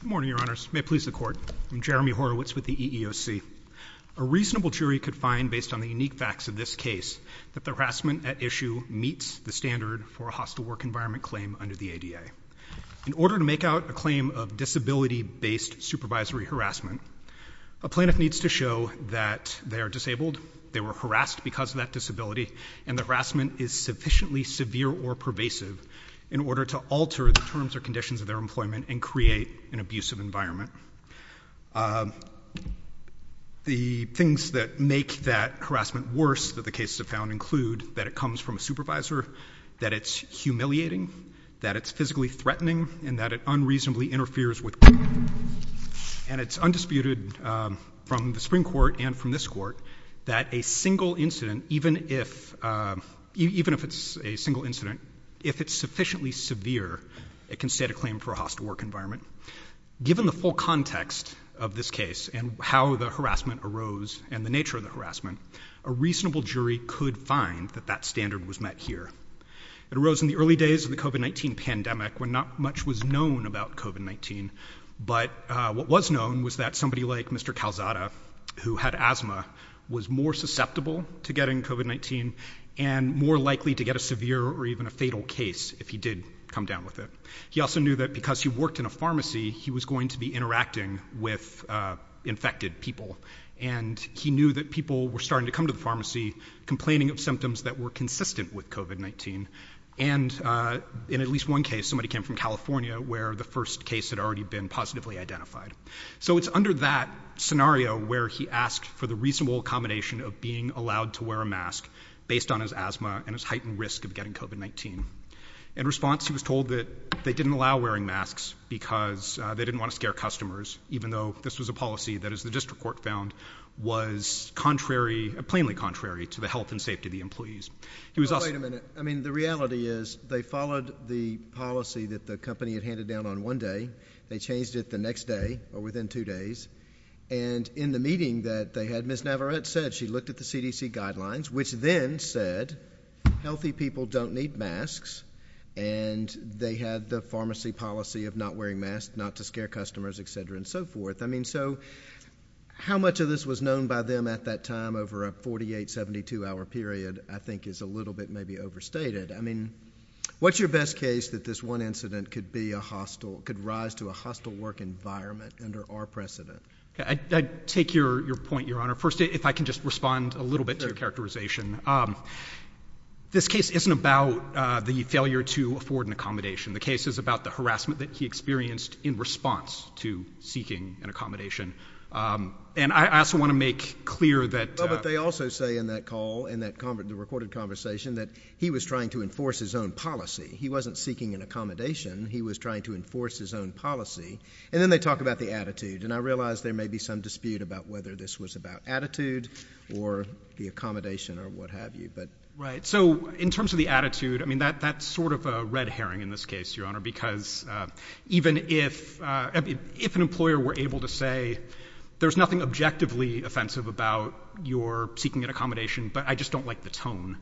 Good morning, Your Honors. May it please the Court. I'm Jeremy Horowitz with the EEOC. A reasonable jury could find, based on the unique facts of this case, that the harassment at issue meets the standard for a hostile work environment claim under the ADA. In order to make out a claim of disability-based supervisory harassment, a plaintiff needs to show that they are disabled, they were harassed because of that disability, and the harassment is abusive, in order to alter the terms or conditions of their employment and create an abusive environment. The things that make that harassment worse that the cases have found include that it comes from a supervisor, that it's humiliating, that it's physically threatening, and that it unreasonably interferes with court. And it's undisputed from the Supreme Court and from this Court that a single incident, even if it's a single incident, if it's sufficiently severe, it can state a claim for a hostile work environment. Given the full context of this case and how the harassment arose and the nature of the harassment, a reasonable jury could find that that standard was met here. It arose in the early days of the COVID-19 pandemic when not much was known about COVID-19, but what was known was that somebody like Mr. Calzada, who had asthma, was more susceptible to getting COVID-19 and more likely to get a severe or even a fatal case if he did come down with it. He also knew that because he worked in a pharmacy, he was going to be interacting with infected people, and he knew that people were starting to come to the pharmacy complaining of symptoms that were consistent with COVID-19, and in at least one case, somebody came from California where the first case had already been positively identified. So it's under that scenario where he asked for the reasonable accommodation of being allowed to wear a mask based on his asthma and his heightened risk of getting COVID-19. In response, he was told that they didn't allow wearing masks because they didn't want to scare customers, even though this was a policy that, as the District Court found, was contrary, plainly contrary, to the health and safety of the employees. He was also... Wait a minute. I mean, the reality is they followed the policy that the company had handed down on one day. They changed it the next day or within two days, and in the meeting that they had, Ms. Navarette said she looked at the CDC guidelines, which then said healthy people don't need masks, and they had the pharmacy policy of not wearing masks, not to scare customers, et cetera, and so forth. I mean, so how much of this was known by them at that time over a 48, 72-hour period I think is a little bit maybe overstated. I mean, What's your best case that this one incident could rise to a hostile work environment under our precedent? I take your point, Your Honor. First, if I can just respond a little bit to your characterization. This case isn't about the failure to afford an accommodation. The case is about the harassment that he experienced in response to seeking an accommodation, and I also want to make clear that... Well, but they also say in that call, in the recorded conversation, that he was trying to enforce his own policy. He wasn't seeking an accommodation. He was trying to enforce his own policy, and then they talk about the attitude, and I realize there may be some dispute about whether this was about attitude or the accommodation or what have you, but... Right. So in terms of the attitude, I mean, that's sort of a red herring in this case, Your Honor, because even if an employer were able to say, there's nothing objectively offensive about your seeking an accommodation, but I just don't like the tone,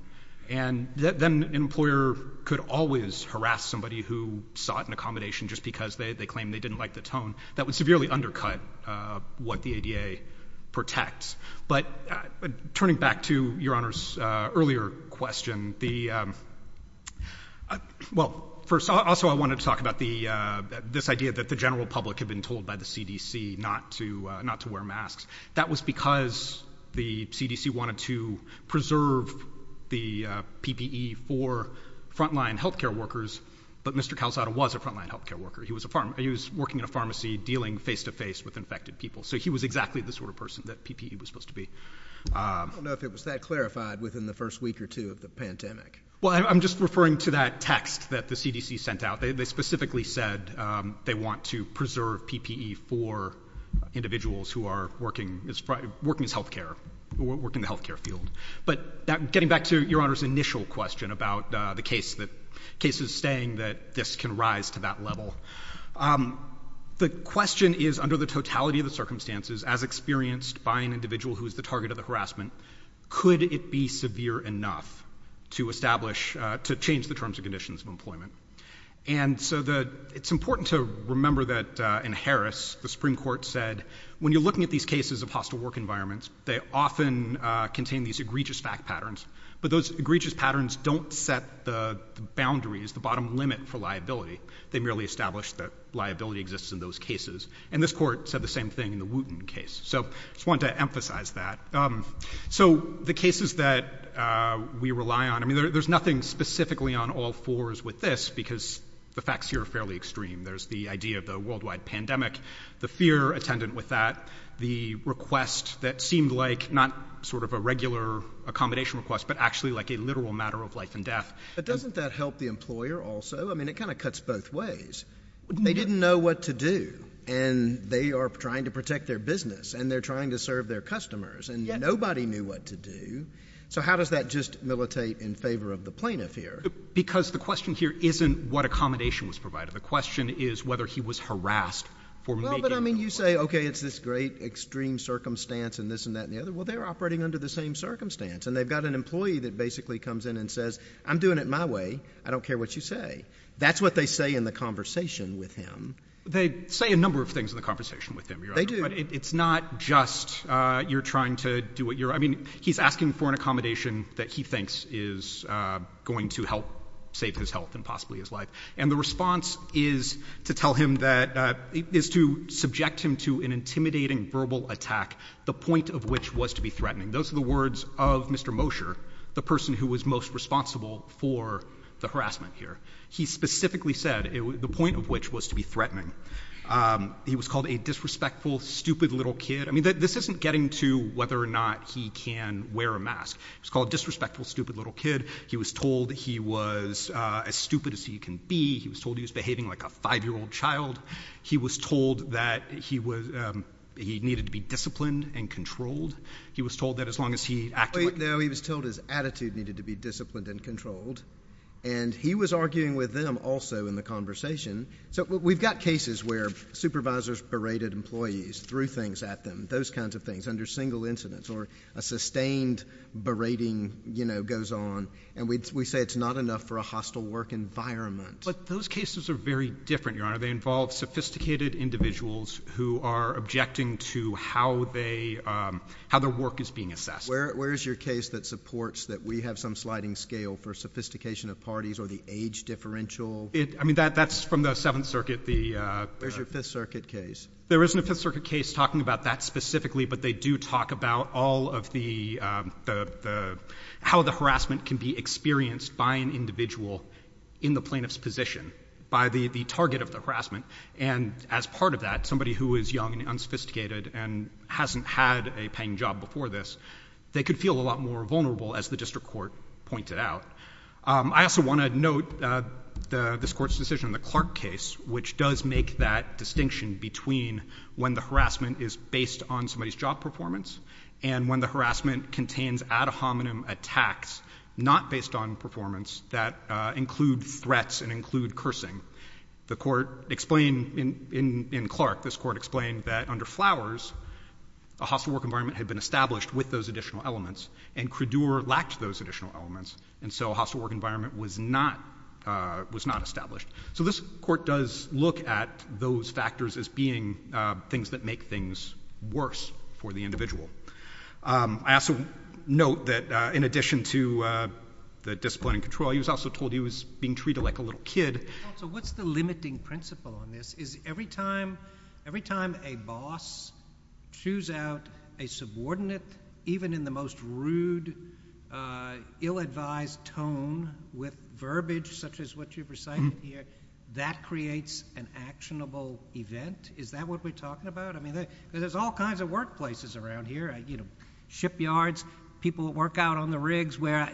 and then an employer could always harass somebody who sought an accommodation just because they claimed they didn't like the tone. That would severely undercut what the ADA protects, but turning back to Your Honor's earlier question, the... Well, first, also, I wanted to talk about this idea that the general public had been told by the CDC not to wear masks. That was because the CDC wanted to preserve the PPE for frontline healthcare workers, but Mr. Calzada was a frontline healthcare worker. He was working in a pharmacy dealing face-to-face with infected people, so he was exactly the sort of person that PPE was supposed to be. I don't know if it was that clarified within the first week or two of the pandemic. Well, I'm just referring to that text that the CDC sent out. They specifically said they want to preserve PPE for individuals who are working as healthcare, who work in the healthcare field. But getting back to Your Honor's initial question about the cases saying that this can rise to that level, the question is, under the totality of the circumstances, as experienced by an individual who is the target of the harassment, could it be severe enough to establish, to change the terms and conditions of employment? And so it's important to remember that in Harris, the Supreme Court said, when you're looking at these cases of hostile work environments, they often contain these egregious fact patterns, but those egregious patterns don't set the boundaries, the bottom limit for liability. They merely establish that liability exists in those cases. And this court said the same thing in the Wooten case. So I just wanted to emphasize that. So the cases that we rely on, I mean, there's nothing specifically on all fours with this, because the facts here are fairly extreme. There's the idea of the worldwide pandemic, the fear attendant with that, the request that seemed like not sort of a regular accommodation request, but actually like a literal matter of life and death. But doesn't that help the employer also? I mean, it kind of cuts both ways. They didn't know what to do, and they are trying to protect their business, and they're trying to serve their customers, and nobody knew what to do. So how does that just militate in favor of the plaintiff here? Because the question here isn't what accommodation was provided. The question is whether he was harassed for making the request. Well, but I mean, you say, okay, it's this great extreme circumstance and this and that and the other. Well, they're operating under the same circumstance, and they've got an employee that basically comes in and says, I'm doing it my way. I don't care what you say. That's what they say in the conversation with him. They say a number of things in the conversation with him, Your Honor. They do. But it's not just you're trying to do what you're – I mean, he's asking for an accommodation that he thinks is going to help save his health and possibly his life. And the response is to tell him that – is to subject him to an intimidating verbal attack, the point of which was to be threatening. Those are the words of Mr. Mosher, the person who was most responsible for the harassment here. He specifically said the point of which was to be threatening. He was called a disrespectful, stupid little kid. I mean, this isn't getting to whether or not he can wear a mask. He was called a disrespectful, stupid little kid. He was told he was as stupid as he can be. He was told he was behaving like a 5-year-old child. He was told that he was – he needed to be disciplined and controlled. He was told that as long as he acted like – No, he was told his attitude needed to be disciplined and controlled. And he was arguing with them also in the conversation. So we've got cases where supervisors berated employees, threw things at them, those kinds of things, under single incidents, or a sustained berating, you know, goes on. And we say it's not enough for a hostile work environment. But those cases are very different, Your Honor. They involve sophisticated individuals who are objecting to how they – how their work is being assessed. Where is your case that supports that we have some sliding scale for sophistication of parties or the age differential? I mean, that's from the Seventh Circuit, the – Where's your Fifth Circuit case? There isn't a Fifth Circuit case talking about that specifically, but they do talk about all of the – how the harassment can be experienced by an individual in the plaintiff's position, by the target of the harassment. And as part of that, somebody who is young and unsophisticated and hasn't had a paying job before this, they could feel a lot more vulnerable, as the district court pointed out. I also want to note this Court's decision in the Clark case, which does make that distinction between when the harassment is based on somebody's job performance and when the harassment contains ad hominem attacks, not based on performance, that include threats and include cursing. The Court explained in Clark, this Court explained that under Flowers, a hostile work environment had been established with those additional elements, and Credure lacked those additional elements, and so a hostile work environment was not – was not established. So this Court does look at those factors as being things that make things worse for the individual. I also note that in addition to the discipline and control, he was also told he was being treated like a little kid. Well, so what's the limiting principle on this? Is every time – every time a boss chews out a subordinate, even in the most rude, ill-advised tone with verbiage such as what you've recited here, that creates an actionable event? Is that what we're talking about? I mean, there's all kinds of workplaces around here, you know, shipyards, people that work out on the rigs where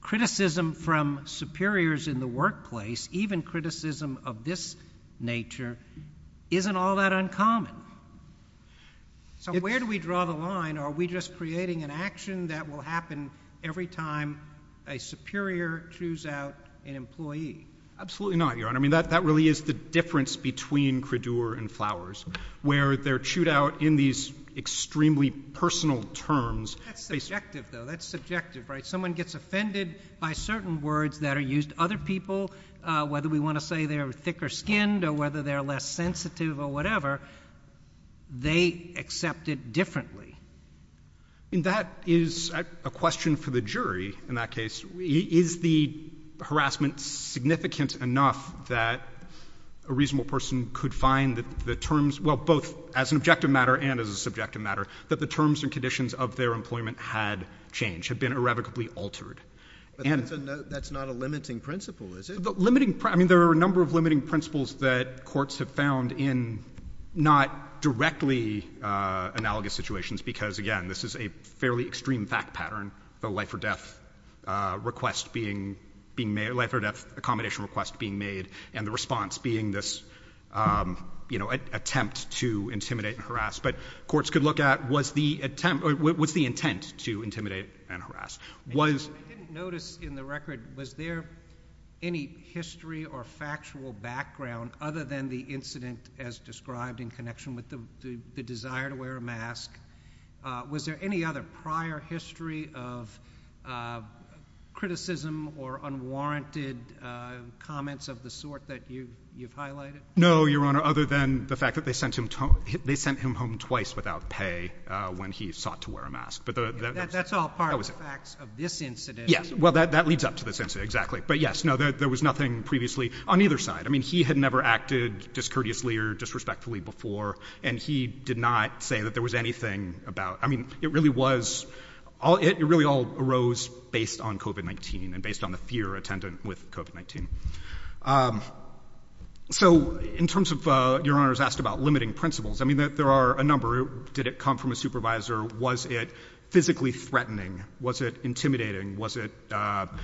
criticism from superiors in the workplace, even criticism of this nature, isn't all that uncommon. So where do we draw the line? Are we just creating an action that will happen every time a superior chews out an employee? Absolutely not, Your Honor. I mean, that really is the difference between Credure and Flowers, where they're chewed out in these extremely personal terms. That's subjective, though. That's subjective, right? Someone gets offended by certain words that are used. Other people, whether we want to say they're thick-skinned or whether they're less sensitive or whatever, they accept it differently. I mean, that is a question for the jury in that case. Is the harassment significant enough that a reasonable person could find that the terms—well, both as an objective matter and as a subjective matter—that the terms and conditions of their employment had changed, had been irrevocably altered? But that's not a limiting principle, is it? Limiting—I mean, there are a number of limiting principles that courts have found in not directly analogous situations because, again, this is a fairly extreme fact pattern, the life-or-death request being made—life-or-death accommodation request being made and the response being this attempt to intimidate and harass. But courts could look at, was the attempt—was the intent to intimidate and harass? I didn't notice in the record, was there any history or factual background other than the incident as described in connection with the desire to wear a mask? Was there any other prior history of criticism or unwarranted comments of the sort that you've highlighted? No, Your Honor, other than the fact that they sent him home twice without pay when he sought to wear a mask. That's all part of the facts of this incident. Yes. Well, that leads up to this incident, exactly. But yes, no, there was nothing previously on either side. I mean, he had never acted discourteously or disrespectfully before, and he did not say that there was anything about—I mean, it really was—it really all arose based on COVID-19 and based on the fear attendant with COVID-19. So in terms of—Your Honor's asked about limiting principles. I mean, there are a number. Did it come from a supervisor? Was it physically threatening? Was it intimidating? Was it—did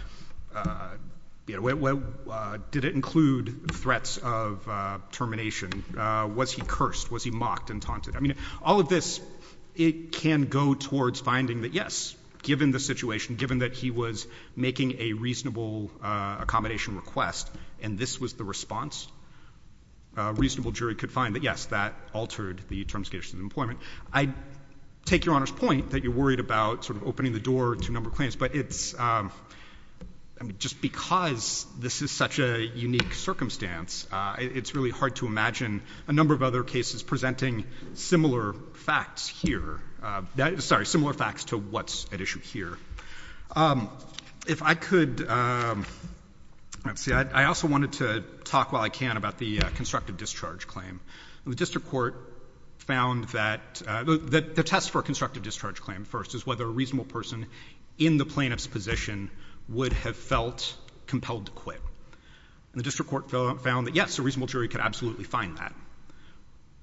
it include threats of termination? Was he cursed? Was he mocked and taunted? I mean, all of this, it can go towards finding that, yes, given the situation, given that he was making a reasonable accommodation request and this was the response, a reasonable jury could find that, yes, that altered the terms of his employment. I take Your Honor's point that you're worried about sort of opening the door to a number of claims, but it's—I mean, just because this is such a unique circumstance, it's really hard to imagine a number of other cases presenting similar facts here—sorry, similar facts to what's at issue here. If I could—let's see. I also wanted to talk while I can about the constructive discharge claim. The district court found that—the test for a constructive discharge claim first is whether a reasonable person in the plaintiff's position would have felt compelled to quit. And the district court found that, yes, a reasonable jury could absolutely find that,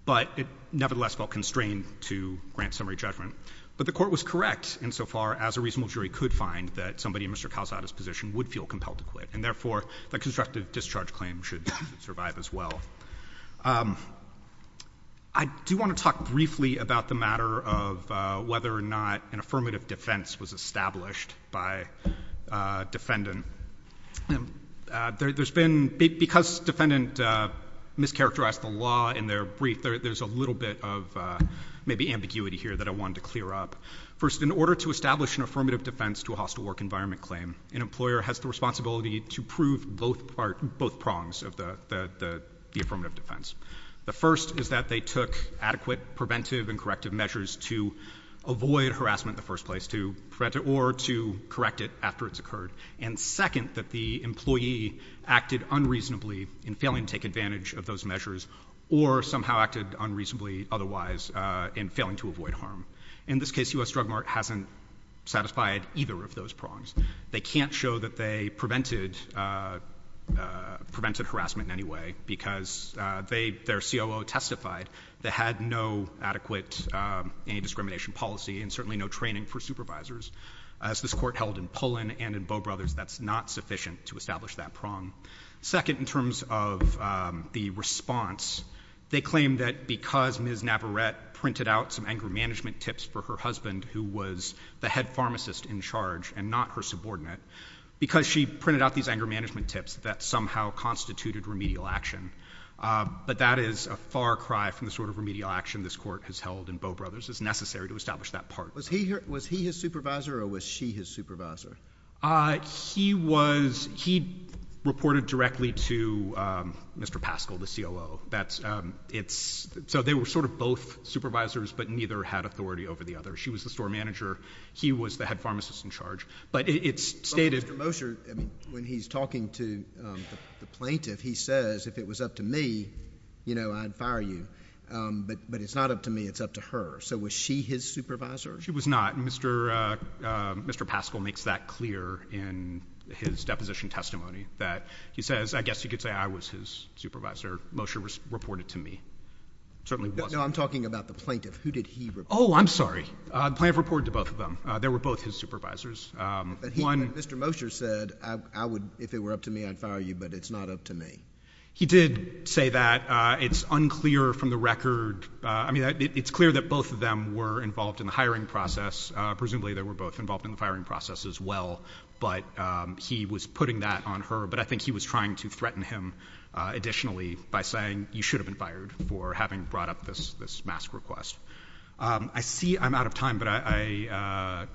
but it nevertheless felt constrained to grant summary judgment. But the court was correct insofar as a reasonable jury could find that somebody in Mr. Calzada's position would feel compelled to quit, and therefore, the constructive discharge claim should survive as well. I do want to talk briefly about the matter of whether or not an affirmative defense was established by defendant. There's been—because defendant mischaracterized the law in their brief, there's a little bit of maybe ambiguity here that I wanted to clear up. First, in order to establish an affirmative defense to a hostile work environment claim, an employer has the responsibility to prove both prongs of the affirmative defense. The first is that they took adequate preventive and corrective measures to avoid harassment in the first place, or to correct it after it's occurred. And second, that the employee acted unreasonably in failing to take advantage of those measures, or somehow acted unreasonably otherwise in failing to avoid harm. In this case, U.S. Drug Mart hasn't satisfied either of those prongs. They can't show that they prevented harassment in any way, because their COO testified they had no adequate anti-discrimination policy, and certainly no training for supervisors. As this Court held in Pullen and in Bow Brothers, that's not sufficient to establish that prong. Second, in terms of the response, they claim that because Ms. Navarette printed out some anger management tips, that somehow constituted remedial action. But that is a far cry from the sort of remedial action this Court has held in Bow Brothers. It's necessary to establish that part. Was he his supervisor, or was she his supervisor? He reported directly to Mr. Paschal, the COO. So they were sort of both supervisors, but neither had authority over the other. She was the store manager. He was the head pharmacist in charge. But it's stated... But Mr. Mosher, when he's talking to the plaintiff, he says, if it was up to me, you know, I'd fire you. But it's not up to me. It's up to her. So was she his supervisor? She was not. Mr. Paschal makes that clear in his deposition testimony, that he says, I guess you could say I was his supervisor. Mosher reported to me. Certainly wasn't. No, I'm talking about the plaintiff. Who did he report to? Oh, I'm sorry. The plaintiff reported to both of them. They were both his supervisors. But he, Mr. Mosher said, I would, if it were up to me, I'd fire you, but it's not up to me. He did say that. It's unclear from the record. I mean, it's clear that both of them were involved in the hiring process. Presumably, they were both involved in the firing process as well. But he was putting that on her. But I think he was trying to threaten him additionally by saying you should have been fired for having brought up this mask request. I see I'm out of time, but I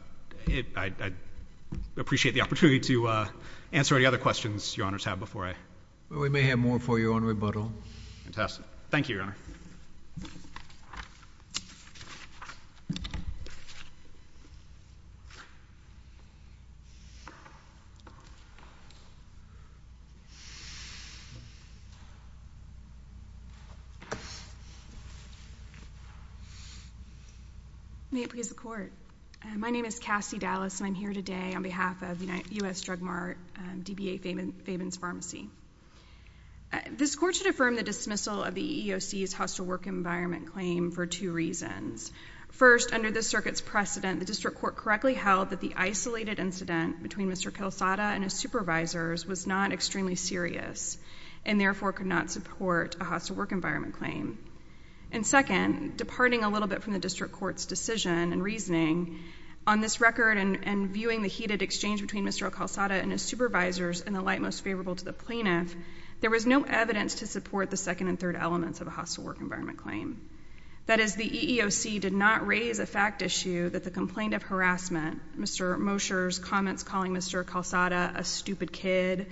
appreciate the opportunity to answer any other questions your honors have before I. We may have more for you on rebuttal. Fantastic. Thank you, your honor. May it please the court. My name is Cassie Dallas, and I'm here today on behalf of U.S. District Court to confirm the dismissal of the EEOC's hostile work environment claim for two reasons. First, under this circuit's precedent, the district court correctly held that the isolated incident between Mr. Calzada and his supervisors was not extremely serious and therefore could not support a hostile work environment claim. And second, departing a little bit from the district court's decision and reasoning, on this record and viewing the heated exchange between Mr. Calzada and his supervisors in the light most favorable to the plaintiff, there was no evidence to support the second and third elements of a hostile work environment claim. That is, the EEOC did not raise a fact issue that the complaint of harassment, Mr. Mosher's comments calling Mr. Calzada a stupid kid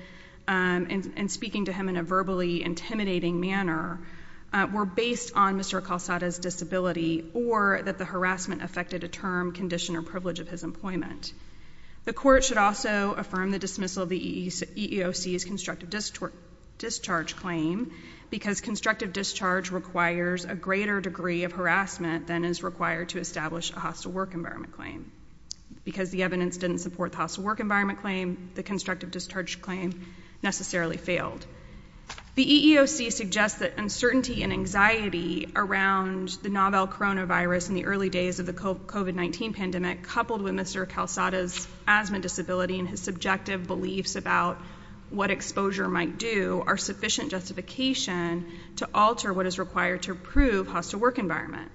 and speaking to him in a verbally intimidating manner were based on Mr. Calzada's disability or that the harassment affected a term, condition, or privilege of his employment. The court should also affirm the dismissal of the EEOC's constructive discharge claim because constructive discharge requires a greater degree of harassment than is required to establish a hostile work environment claim. Because the evidence didn't support the hostile work environment claim, the constructive discharge claim necessarily failed. The EEOC suggests that uncertainty and anxiety around the novel coronavirus in the early days of the COVID-19 pandemic coupled with Mr. Calzada's harassment disability and his subjective beliefs about what exposure might do are sufficient justification to alter what is required to prove hostile work environment.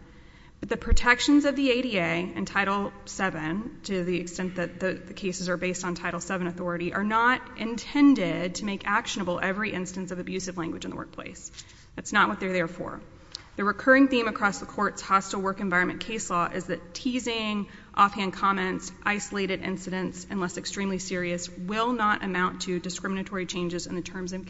But the protections of the ADA and Title VII, to the extent that the cases are based on Title VII authority, are not intended to make actionable every instance of abusive language in the workplace. That's not what they're there for. The recurring theme across the court's hostile work environment case law is that teasing, offhand comments, isolated incidents, unless extremely serious, will not amount to discriminatory changes in the terms and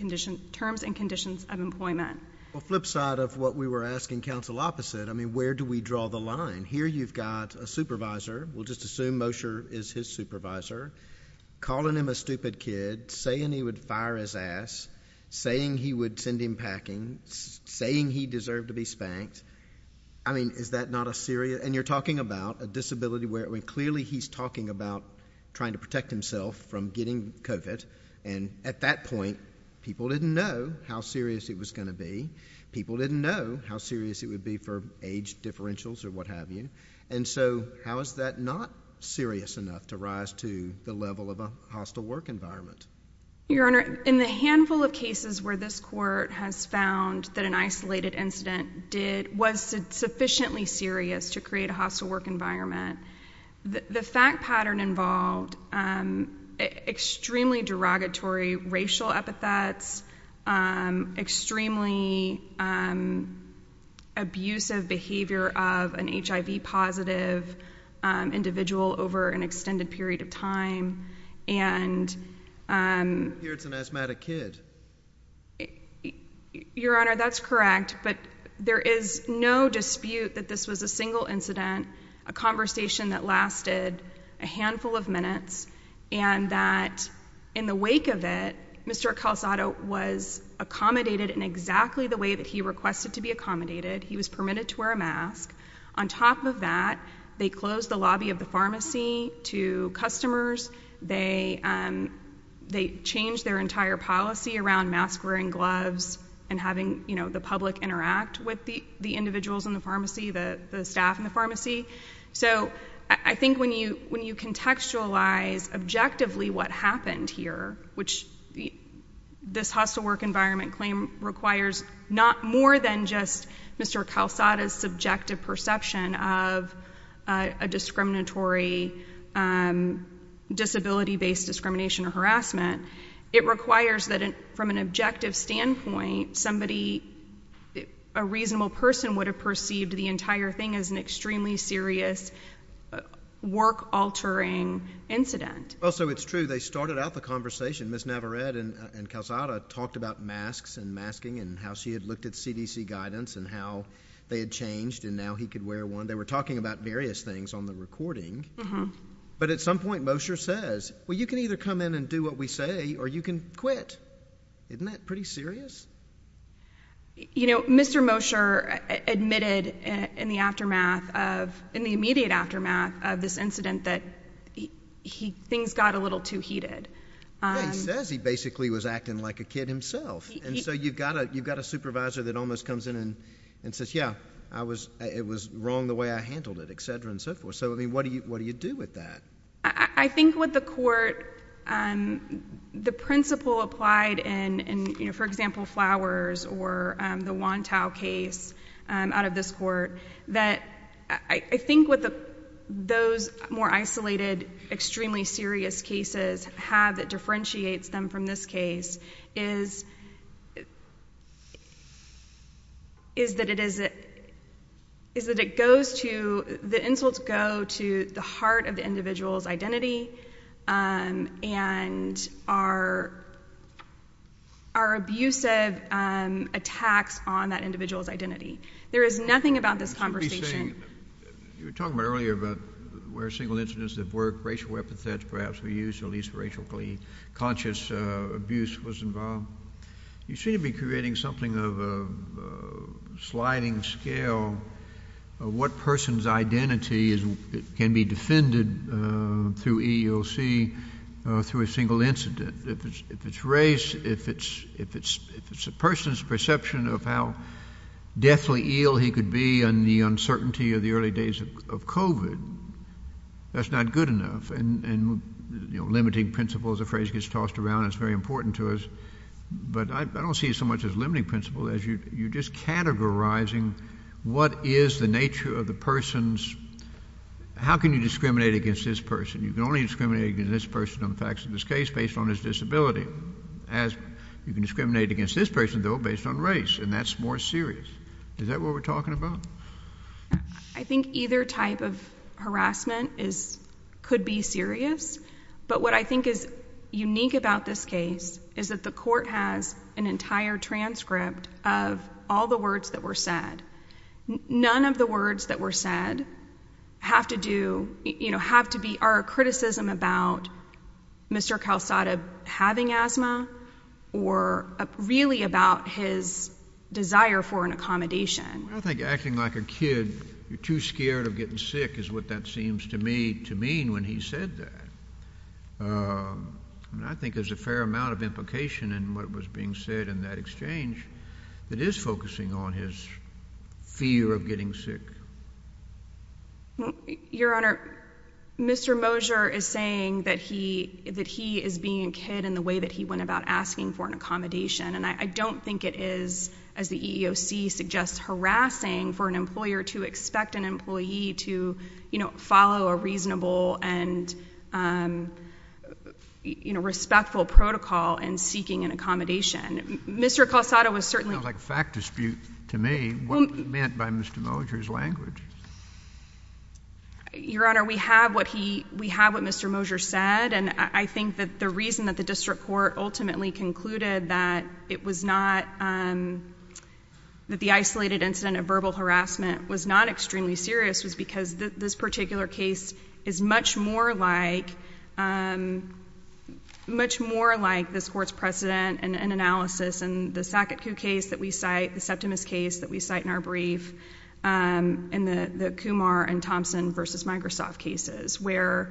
conditions of employment. Well, flip side of what we were asking counsel opposite, I mean, where do we draw the line? Here you've got a supervisor, we'll just assume Mosher is his supervisor, calling him a stupid kid, saying he would fire his ass, saying he would send him packing, saying he deserved to be spanked. I mean, is that not a serious, and you're talking about a disability where clearly he's talking about trying to protect himself from getting COVID. And at that point, people didn't know how serious it was going to be. People didn't know how serious it would be for age differentials or what have you. And so, how is that not serious enough to rise to the level of a hostile work environment? Your Honor, in the handful of cases where this court has found that an isolated incident did, was sufficiently serious to create a hostile work environment, the fact pattern involved extremely derogatory racial epithets, extremely abusive behavior of an HIV positive individual over an extended period of time, and, um, here it's an asthmatic kid. Your Honor, that's correct. But there is no dispute that this was a single incident, a conversation that lasted a handful of minutes and that in the wake of it, Mr Calzado was accommodated in exactly the way that he requested to be accommodated. He was permitted to wear a mask. On top of that, they closed the lobby of the pharmacy to customers. They, um, they changed their entire policy around mask wearing gloves and having, you know, the public interact with the individuals in the pharmacy, the staff in the pharmacy. So, I think when you contextualize objectively what happened here, which this hostile work environment claim requires not more than just Mr Calzado's subjective perception of a discriminatory, um, disability-based discrimination or harassment, it requires that from an objective standpoint, somebody, a reasonable person would have perceived the entire thing as an extremely serious work-altering incident. Well, so it's true. They started out the conversation. Ms Navarrete and Calzado talked about masks and masking and how she had looked at CDC guidance and how they had changed and now he could wear one. They were talking about various things on the recording, but at some point Mosher says, well, you can either come in and do what we say or you can quit. Isn't that pretty serious? You know, Mr Mosher admitted in the aftermath of, in the immediate aftermath of this incident that he, things got a little too heated. Yeah, he says he basically was acting like a kid himself. And so you've got a, you've I mean, what do you, what do you do with that? I think what the court, um, the principle applied in, in, you know, for example, Flowers or the Wontow case, um, out of this court, that I think what the, those more isolated, extremely serious cases have that differentiates them from this case is, is that it is, is that it goes to, the insults go to the heart of the individual's identity, um, and are, are abusive, um, attacks on that individual's identity. There is nothing about this conversation. You were talking about earlier about where single incidents have worked, racial epithets perhaps were used, or at least racially conscious, uh, abuse was involved. You seem to be creating something of a sliding scale of what person's identity is, can be defended, uh, through EEOC, uh, through a single incident. If it's, if it's race, if it's, if it's, if it's a person's perception of how deathly ill he could be and the uncertainty of the early days of COVID, that's not good enough, and, and, you know, limiting principles, a phrase gets tossed around, it's very important to us, but I, I don't see it so much as limiting principle as you, you're just categorizing what is the nature of the person's, how can you discriminate against this person? You can only discriminate against this person on the facts of this case based on his disability, as you can discriminate against this person though based on race, and that's more serious. Is that what we're talking about? I think either type of harassment is, could be serious, but what I think is unique about this case is that the court has an entire transcript of all the words that were said. None of the words that were said have to do, you know, have to be, are a criticism about Mr. Calzada having asthma or really about his desire for an accommodation. I think acting like a kid, you're too scared of getting sick is what that seems to me to mean when he said that, and I think there's a fair amount of implication in what was being said in that exchange that is focusing on his fear of getting sick. Your Honor, Mr. Mosher is saying that he, that he is being a kid in the way that he went about asking for an accommodation, and I don't think it is, as the EEOC suggests, harassing for an employer to expect an employee to, you know, follow a reasonable and, you know, respectful protocol in seeking an accommodation. Mr. Calzada was certainly Sounds like a fact dispute to me. What was meant by Mr. Mosher's language? Your Honor, we have what he, we have what Mr. Mosher said, and I think that the reason that district court ultimately concluded that it was not, that the isolated incident of verbal harassment was not extremely serious was because this particular case is much more like, much more like this court's precedent and analysis, and the Saketku case that we cite, the Septimus case that we cite in our brief, and the Kumar and Thompson versus Microsoft cases, where,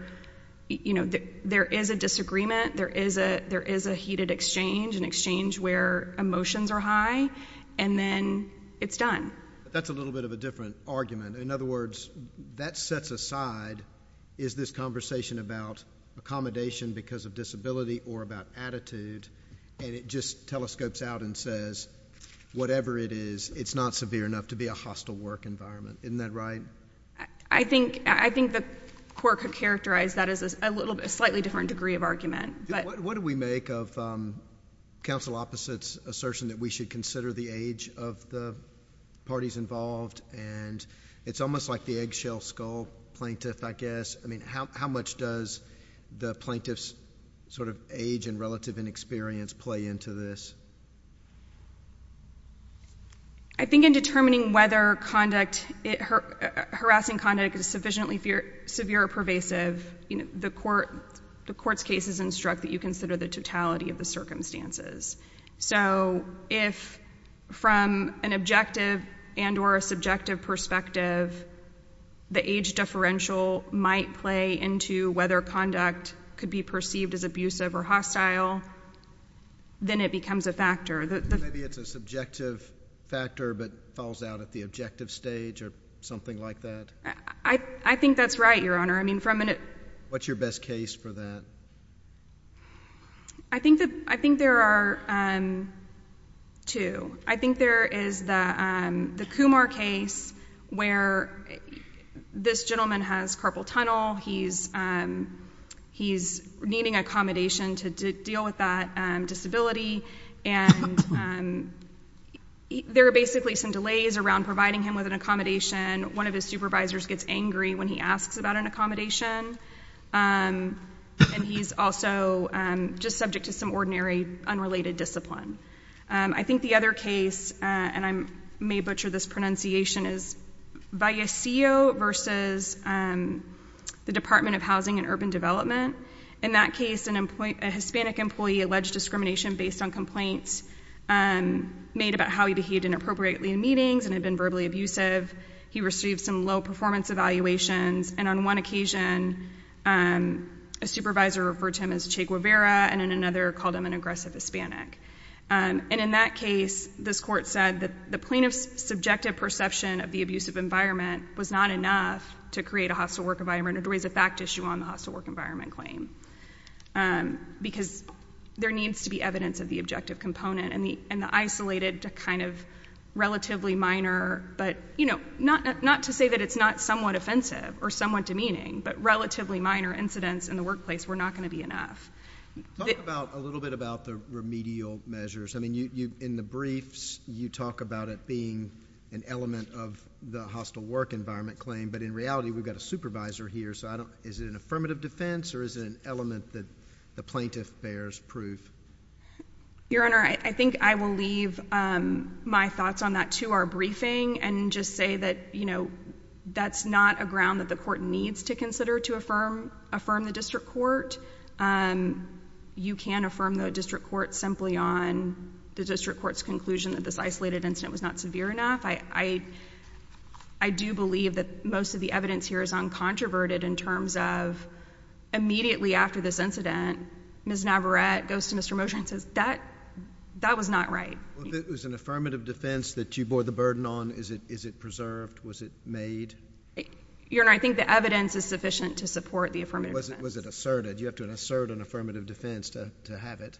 you know, there is a disagreement, there is a heated exchange, an exchange where emotions are high, and then it's done. That's a little bit of a different argument. In other words, that sets aside, is this conversation about accommodation because of disability or about attitude, and it just telescopes out and says, whatever it is, it's not severe enough to be characterized. That is a slightly different degree of argument. What do we make of counsel opposite's assertion that we should consider the age of the parties involved? And it's almost like the eggshell skull plaintiff, I guess. I mean, how much does the plaintiff's sort of age and relative inexperience play into this? I think in determining whether conduct, harassing conduct is sufficiently severe or pervasive, you know, the court, the court's cases instruct that you consider the totality of the circumstances. So, if from an objective and or a subjective perspective, the age differential might play into whether conduct could be perceived as abusive or hostile, then it becomes a factor. Maybe it's a subjective factor, but falls out at the objective stage or something like that. I think that's right, Your Honor. I mean, from an— What's your best case for that? I think there are two. I think there is the Kumar case where this gentleman has carpal tunnel, he's needing accommodation to deal with that disability, and there are basically some delays around providing him with an accommodation. One of his supervisors gets angry when he asks about an accommodation, and he's also just subject to some ordinary, unrelated discipline. I think the other case—and I may butcher this pronunciation—is the Department of Housing and Urban Development. In that case, a Hispanic employee alleged discrimination based on complaints made about how he behaved inappropriately in meetings and had been verbally abusive. He received some low-performance evaluations, and on one occasion, a supervisor referred to him as Che Guevara, and then another called him an aggressive Hispanic. And in that case, this court said that the plaintiff's subjective perception of the hostile work environment, which is a fact issue on the hostile work environment claim, because there needs to be evidence of the objective component and the isolated kind of relatively minor—not to say that it's not somewhat offensive or somewhat demeaning, but relatively minor incidents in the workplace were not going to be enough. Talk a little bit about the remedial measures. I mean, in the briefs, you talk about it being an element of the hostile work environment claim, but in reality, we've got a supervisor here, so I don't—is it an affirmative defense, or is it an element that the plaintiff bears proof? Your Honor, I think I will leave my thoughts on that to our briefing and just say that, you know, that's not a ground that the court needs to consider to affirm the district court. You can affirm the district court simply on the district court's conclusion that this isolated incident was not severe enough. I do believe that most of the evidence here is uncontroverted in terms of immediately after this incident, Ms. Navarette goes to Mr. Mosher and says, that was not right. Was it an affirmative defense that you bore the burden on? Is it preserved? Was it made? Your Honor, I think the evidence is sufficient to support the affirmative defense. Was it asserted? You have to assert an affirmative defense to have it.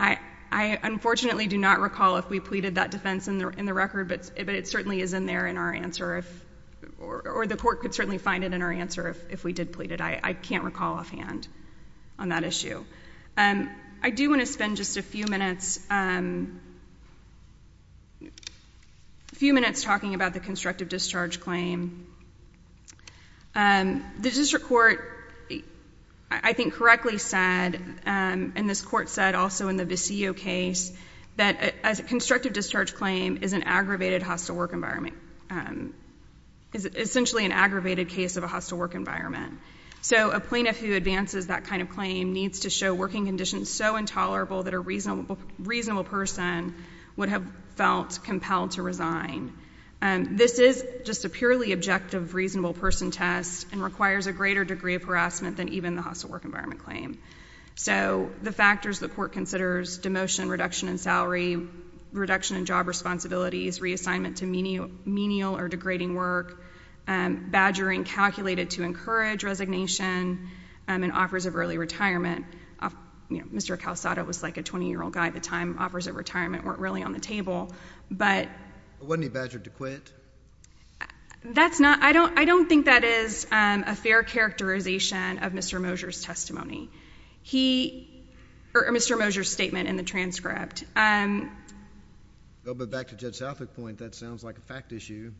I unfortunately do not recall if we pleaded that defense in the record, but it certainly is in there in our answer, or the court could certainly find it in our answer if we did plead it. I can't recall offhand on that issue. I do want to spend just a few minutes talking about the constructive discharge claim. The district court, I think, correctly said, and this court said also in the Viseo case, that a constructive discharge claim is an aggravated hostile work environment, is essentially an aggravated case of a hostile work environment. So a plaintiff who advances that kind of claim needs to show working conditions so intolerable that a reasonable person would have felt compelled to resign. This is just a purely objective claim. It's a purely objective reasonable person test and requires a greater degree of harassment than even the hostile work environment claim. So the factors the court considers, demotion, reduction in salary, reduction in job responsibilities, reassignment to menial or degrading work, badgering calculated to encourage resignation, and offers of early retirement. Mr. Calasado was like a 20-year-old guy at the time. Offers of retirement weren't really on the table, but... Wasn't he badgered to quit? That's not... I don't think that is a fair characterization of Mr. Moser's testimony. He... or Mr. Moser's statement in the transcript. A little bit back to Judge Southwick's point, that sounds like a fact issue.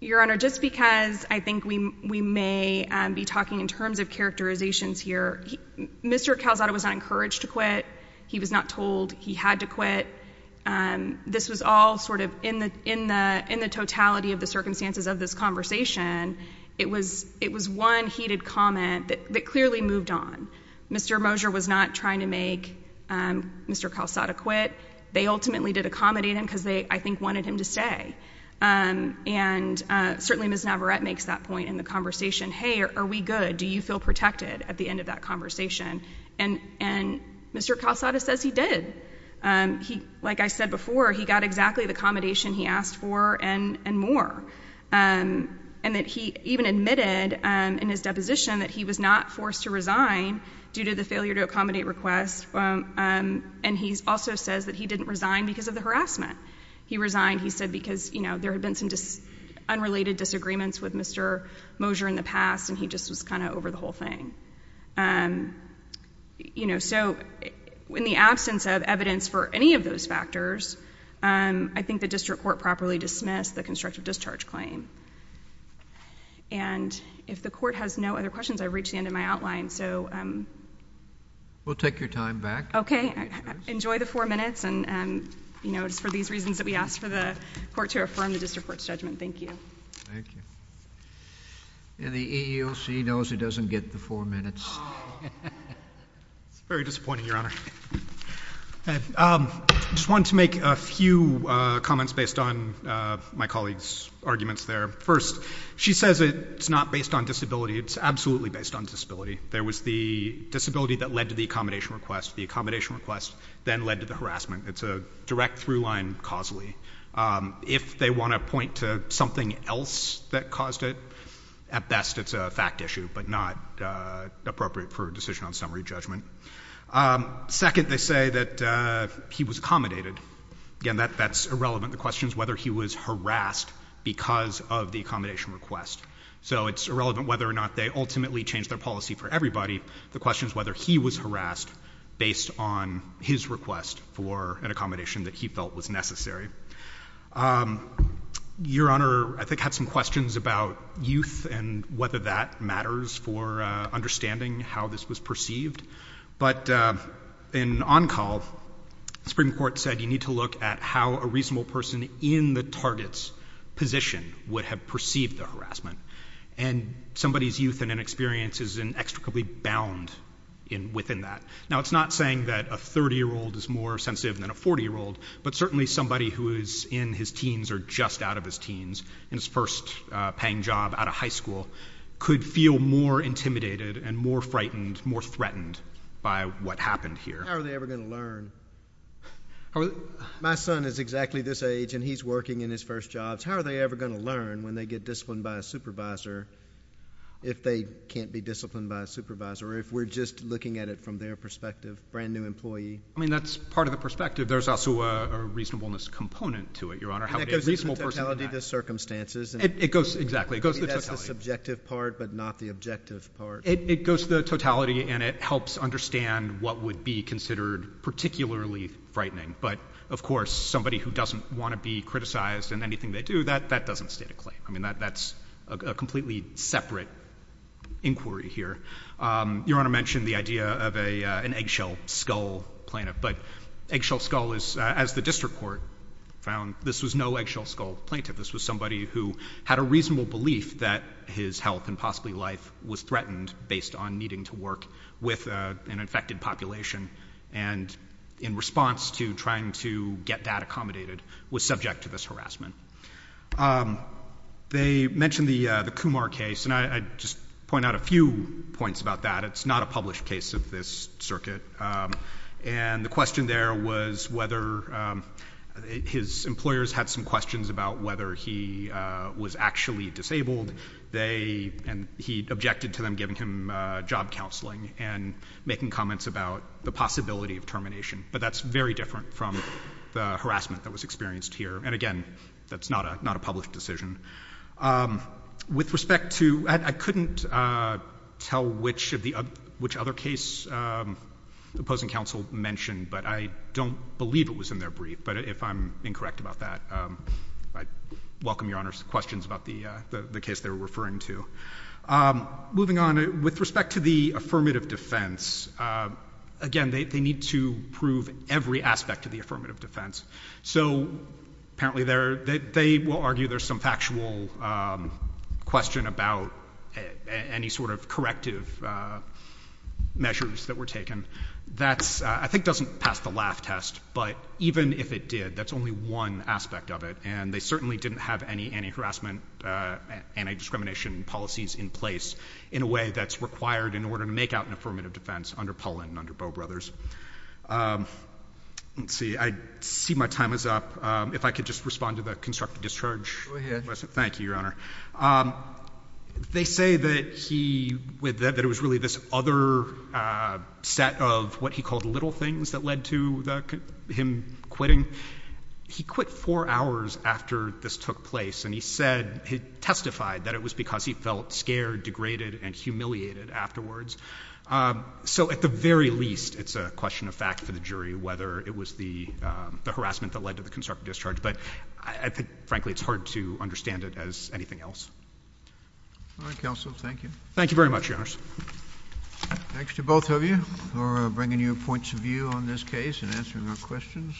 Your Honor, just because I think we may be talking in terms of characterizations here, Mr. Calasado was not encouraged to quit. He was not told he had to quit. This was all in the totality of the circumstances of this conversation. It was one heated comment that clearly moved on. Mr. Moser was not trying to make Mr. Calasado quit. They ultimately did accommodate him because they, I think, wanted him to stay. And certainly Ms. Navarette makes that point in the conversation. Hey, are we good? Do you feel protected at the end of that conversation? And Mr. Calasado says he did. Like I said before, he got exactly the accommodation he asked for and more. And that he even admitted in his deposition that he was not forced to resign due to the failure to accommodate request. And he also says that he didn't resign because of the harassment. He resigned, he said, because there had been some unrelated disagreements with Mr. Moser in the past and he just was kind of over the whole thing. So in the absence of evidence for any of those factors, I think the district court properly dismissed the constructive discharge claim. And if the court has no other questions, I've reached the end of my outline. We'll take your time back. Okay. Enjoy the four minutes. And just for these reasons that we asked for the court to affirm the district court's judgment. Thank you. Thank you. And the EEOC knows it doesn't get the four minutes. It's very disappointing, Your Honor. I just wanted to make a few comments based on my colleague's arguments there. First, she says it's not based on disability. It's absolutely based on disability. There was the disability that led to the accommodation request. The accommodation request then led to the harassment. It's a direct through line causally. If they want to point to something else that caused it, at best it's a fact issue, but not appropriate for a decision on summary judgment. Second, they say that he was accommodated. Again, that's irrelevant. The question is whether he was harassed because of the accommodation request. So it's irrelevant whether or not they ultimately changed their policy for everybody. The question is whether he was harassed based on his request for an accommodation that he felt was necessary. Your Honor, I think had some questions about youth and whether that matters for understanding how this was perceived. But in on-call, the Supreme Court said you need to look at how a reasonable person in the target's position would have perceived the harassment. And somebody's youth and inexperience is inextricably bound within that. Now, it's not saying that a 30-year-old is more sensitive than a 40-year-old, but certainly somebody who is in his teens or just out of his teens in his first paying job out of high school could feel more intimidated and more frightened, more threatened by what happened here. How are they ever going to learn? My son is exactly this age and he's working in his first jobs. How are they ever going to learn when they get disciplined by a supervisor if they can't be disciplined by a supervisor or if we're just looking at it from their perspective, brand new employee? I mean, that's part of the perspective. There's also a reasonableness component to it, Your Honor. And that goes to the totality of the circumstances. It goes, exactly, it goes to the totality. That's the subjective part but not the objective part. It goes to the totality and it helps understand what would be considered particularly frightening. But of course, somebody who doesn't want to be criticized in anything they do, that doesn't That's a completely separate inquiry here. Your Honor mentioned the idea of an eggshell skull plaintiff, but eggshell skull is, as the district court found, this was no eggshell skull plaintiff. This was somebody who had a reasonable belief that his health and possibly life was threatened based on needing to work with an infected population and in response to trying to get that accommodated, was subject to this harassment. They mentioned the Kumar case and I just point out a few points about that. It's not a published case of this circuit and the question there was whether his employers had some questions about whether he was actually disabled. They, and he objected to them giving him job counseling and making comments about the possibility of harassment that was experienced here. And again, that's not a published decision. With respect to, I couldn't tell which of the, which other case the opposing counsel mentioned, but I don't believe it was in their brief. But if I'm incorrect about that, I welcome your Honor's questions about the case they were referring to. Moving on, with respect to the affirmative defense, again, they need to prove every aspect of the affirmative defense. So apparently there, they will argue there's some factual question about any sort of corrective measures that were taken. That's, I think doesn't pass the laugh test, but even if it did, that's only one aspect of it. And they certainly didn't have any anti-harassment, anti-discrimination policies in place in a way that's required in order to make out an affirmative defense under Pollan and under Bowe Brothers. Let's see. I see my time is up. If I could just respond to the constructive discharge. Thank you, Your Honor. They say that he, that it was really this other set of what he called little things that led to the, him quitting. He quit four hours after this took place. And he said, he testified that it was because he felt scared, degraded, and humiliated afterwards. So at the very least, it's a question of fact for the jury, whether it was the harassment that led to the constructive discharge. But I think frankly, it's hard to understand it as anything else. All right, counsel. Thank you. Thank you very much, Your Honor. Thanks to both of you for bringing your points of view on this case and answering our questions.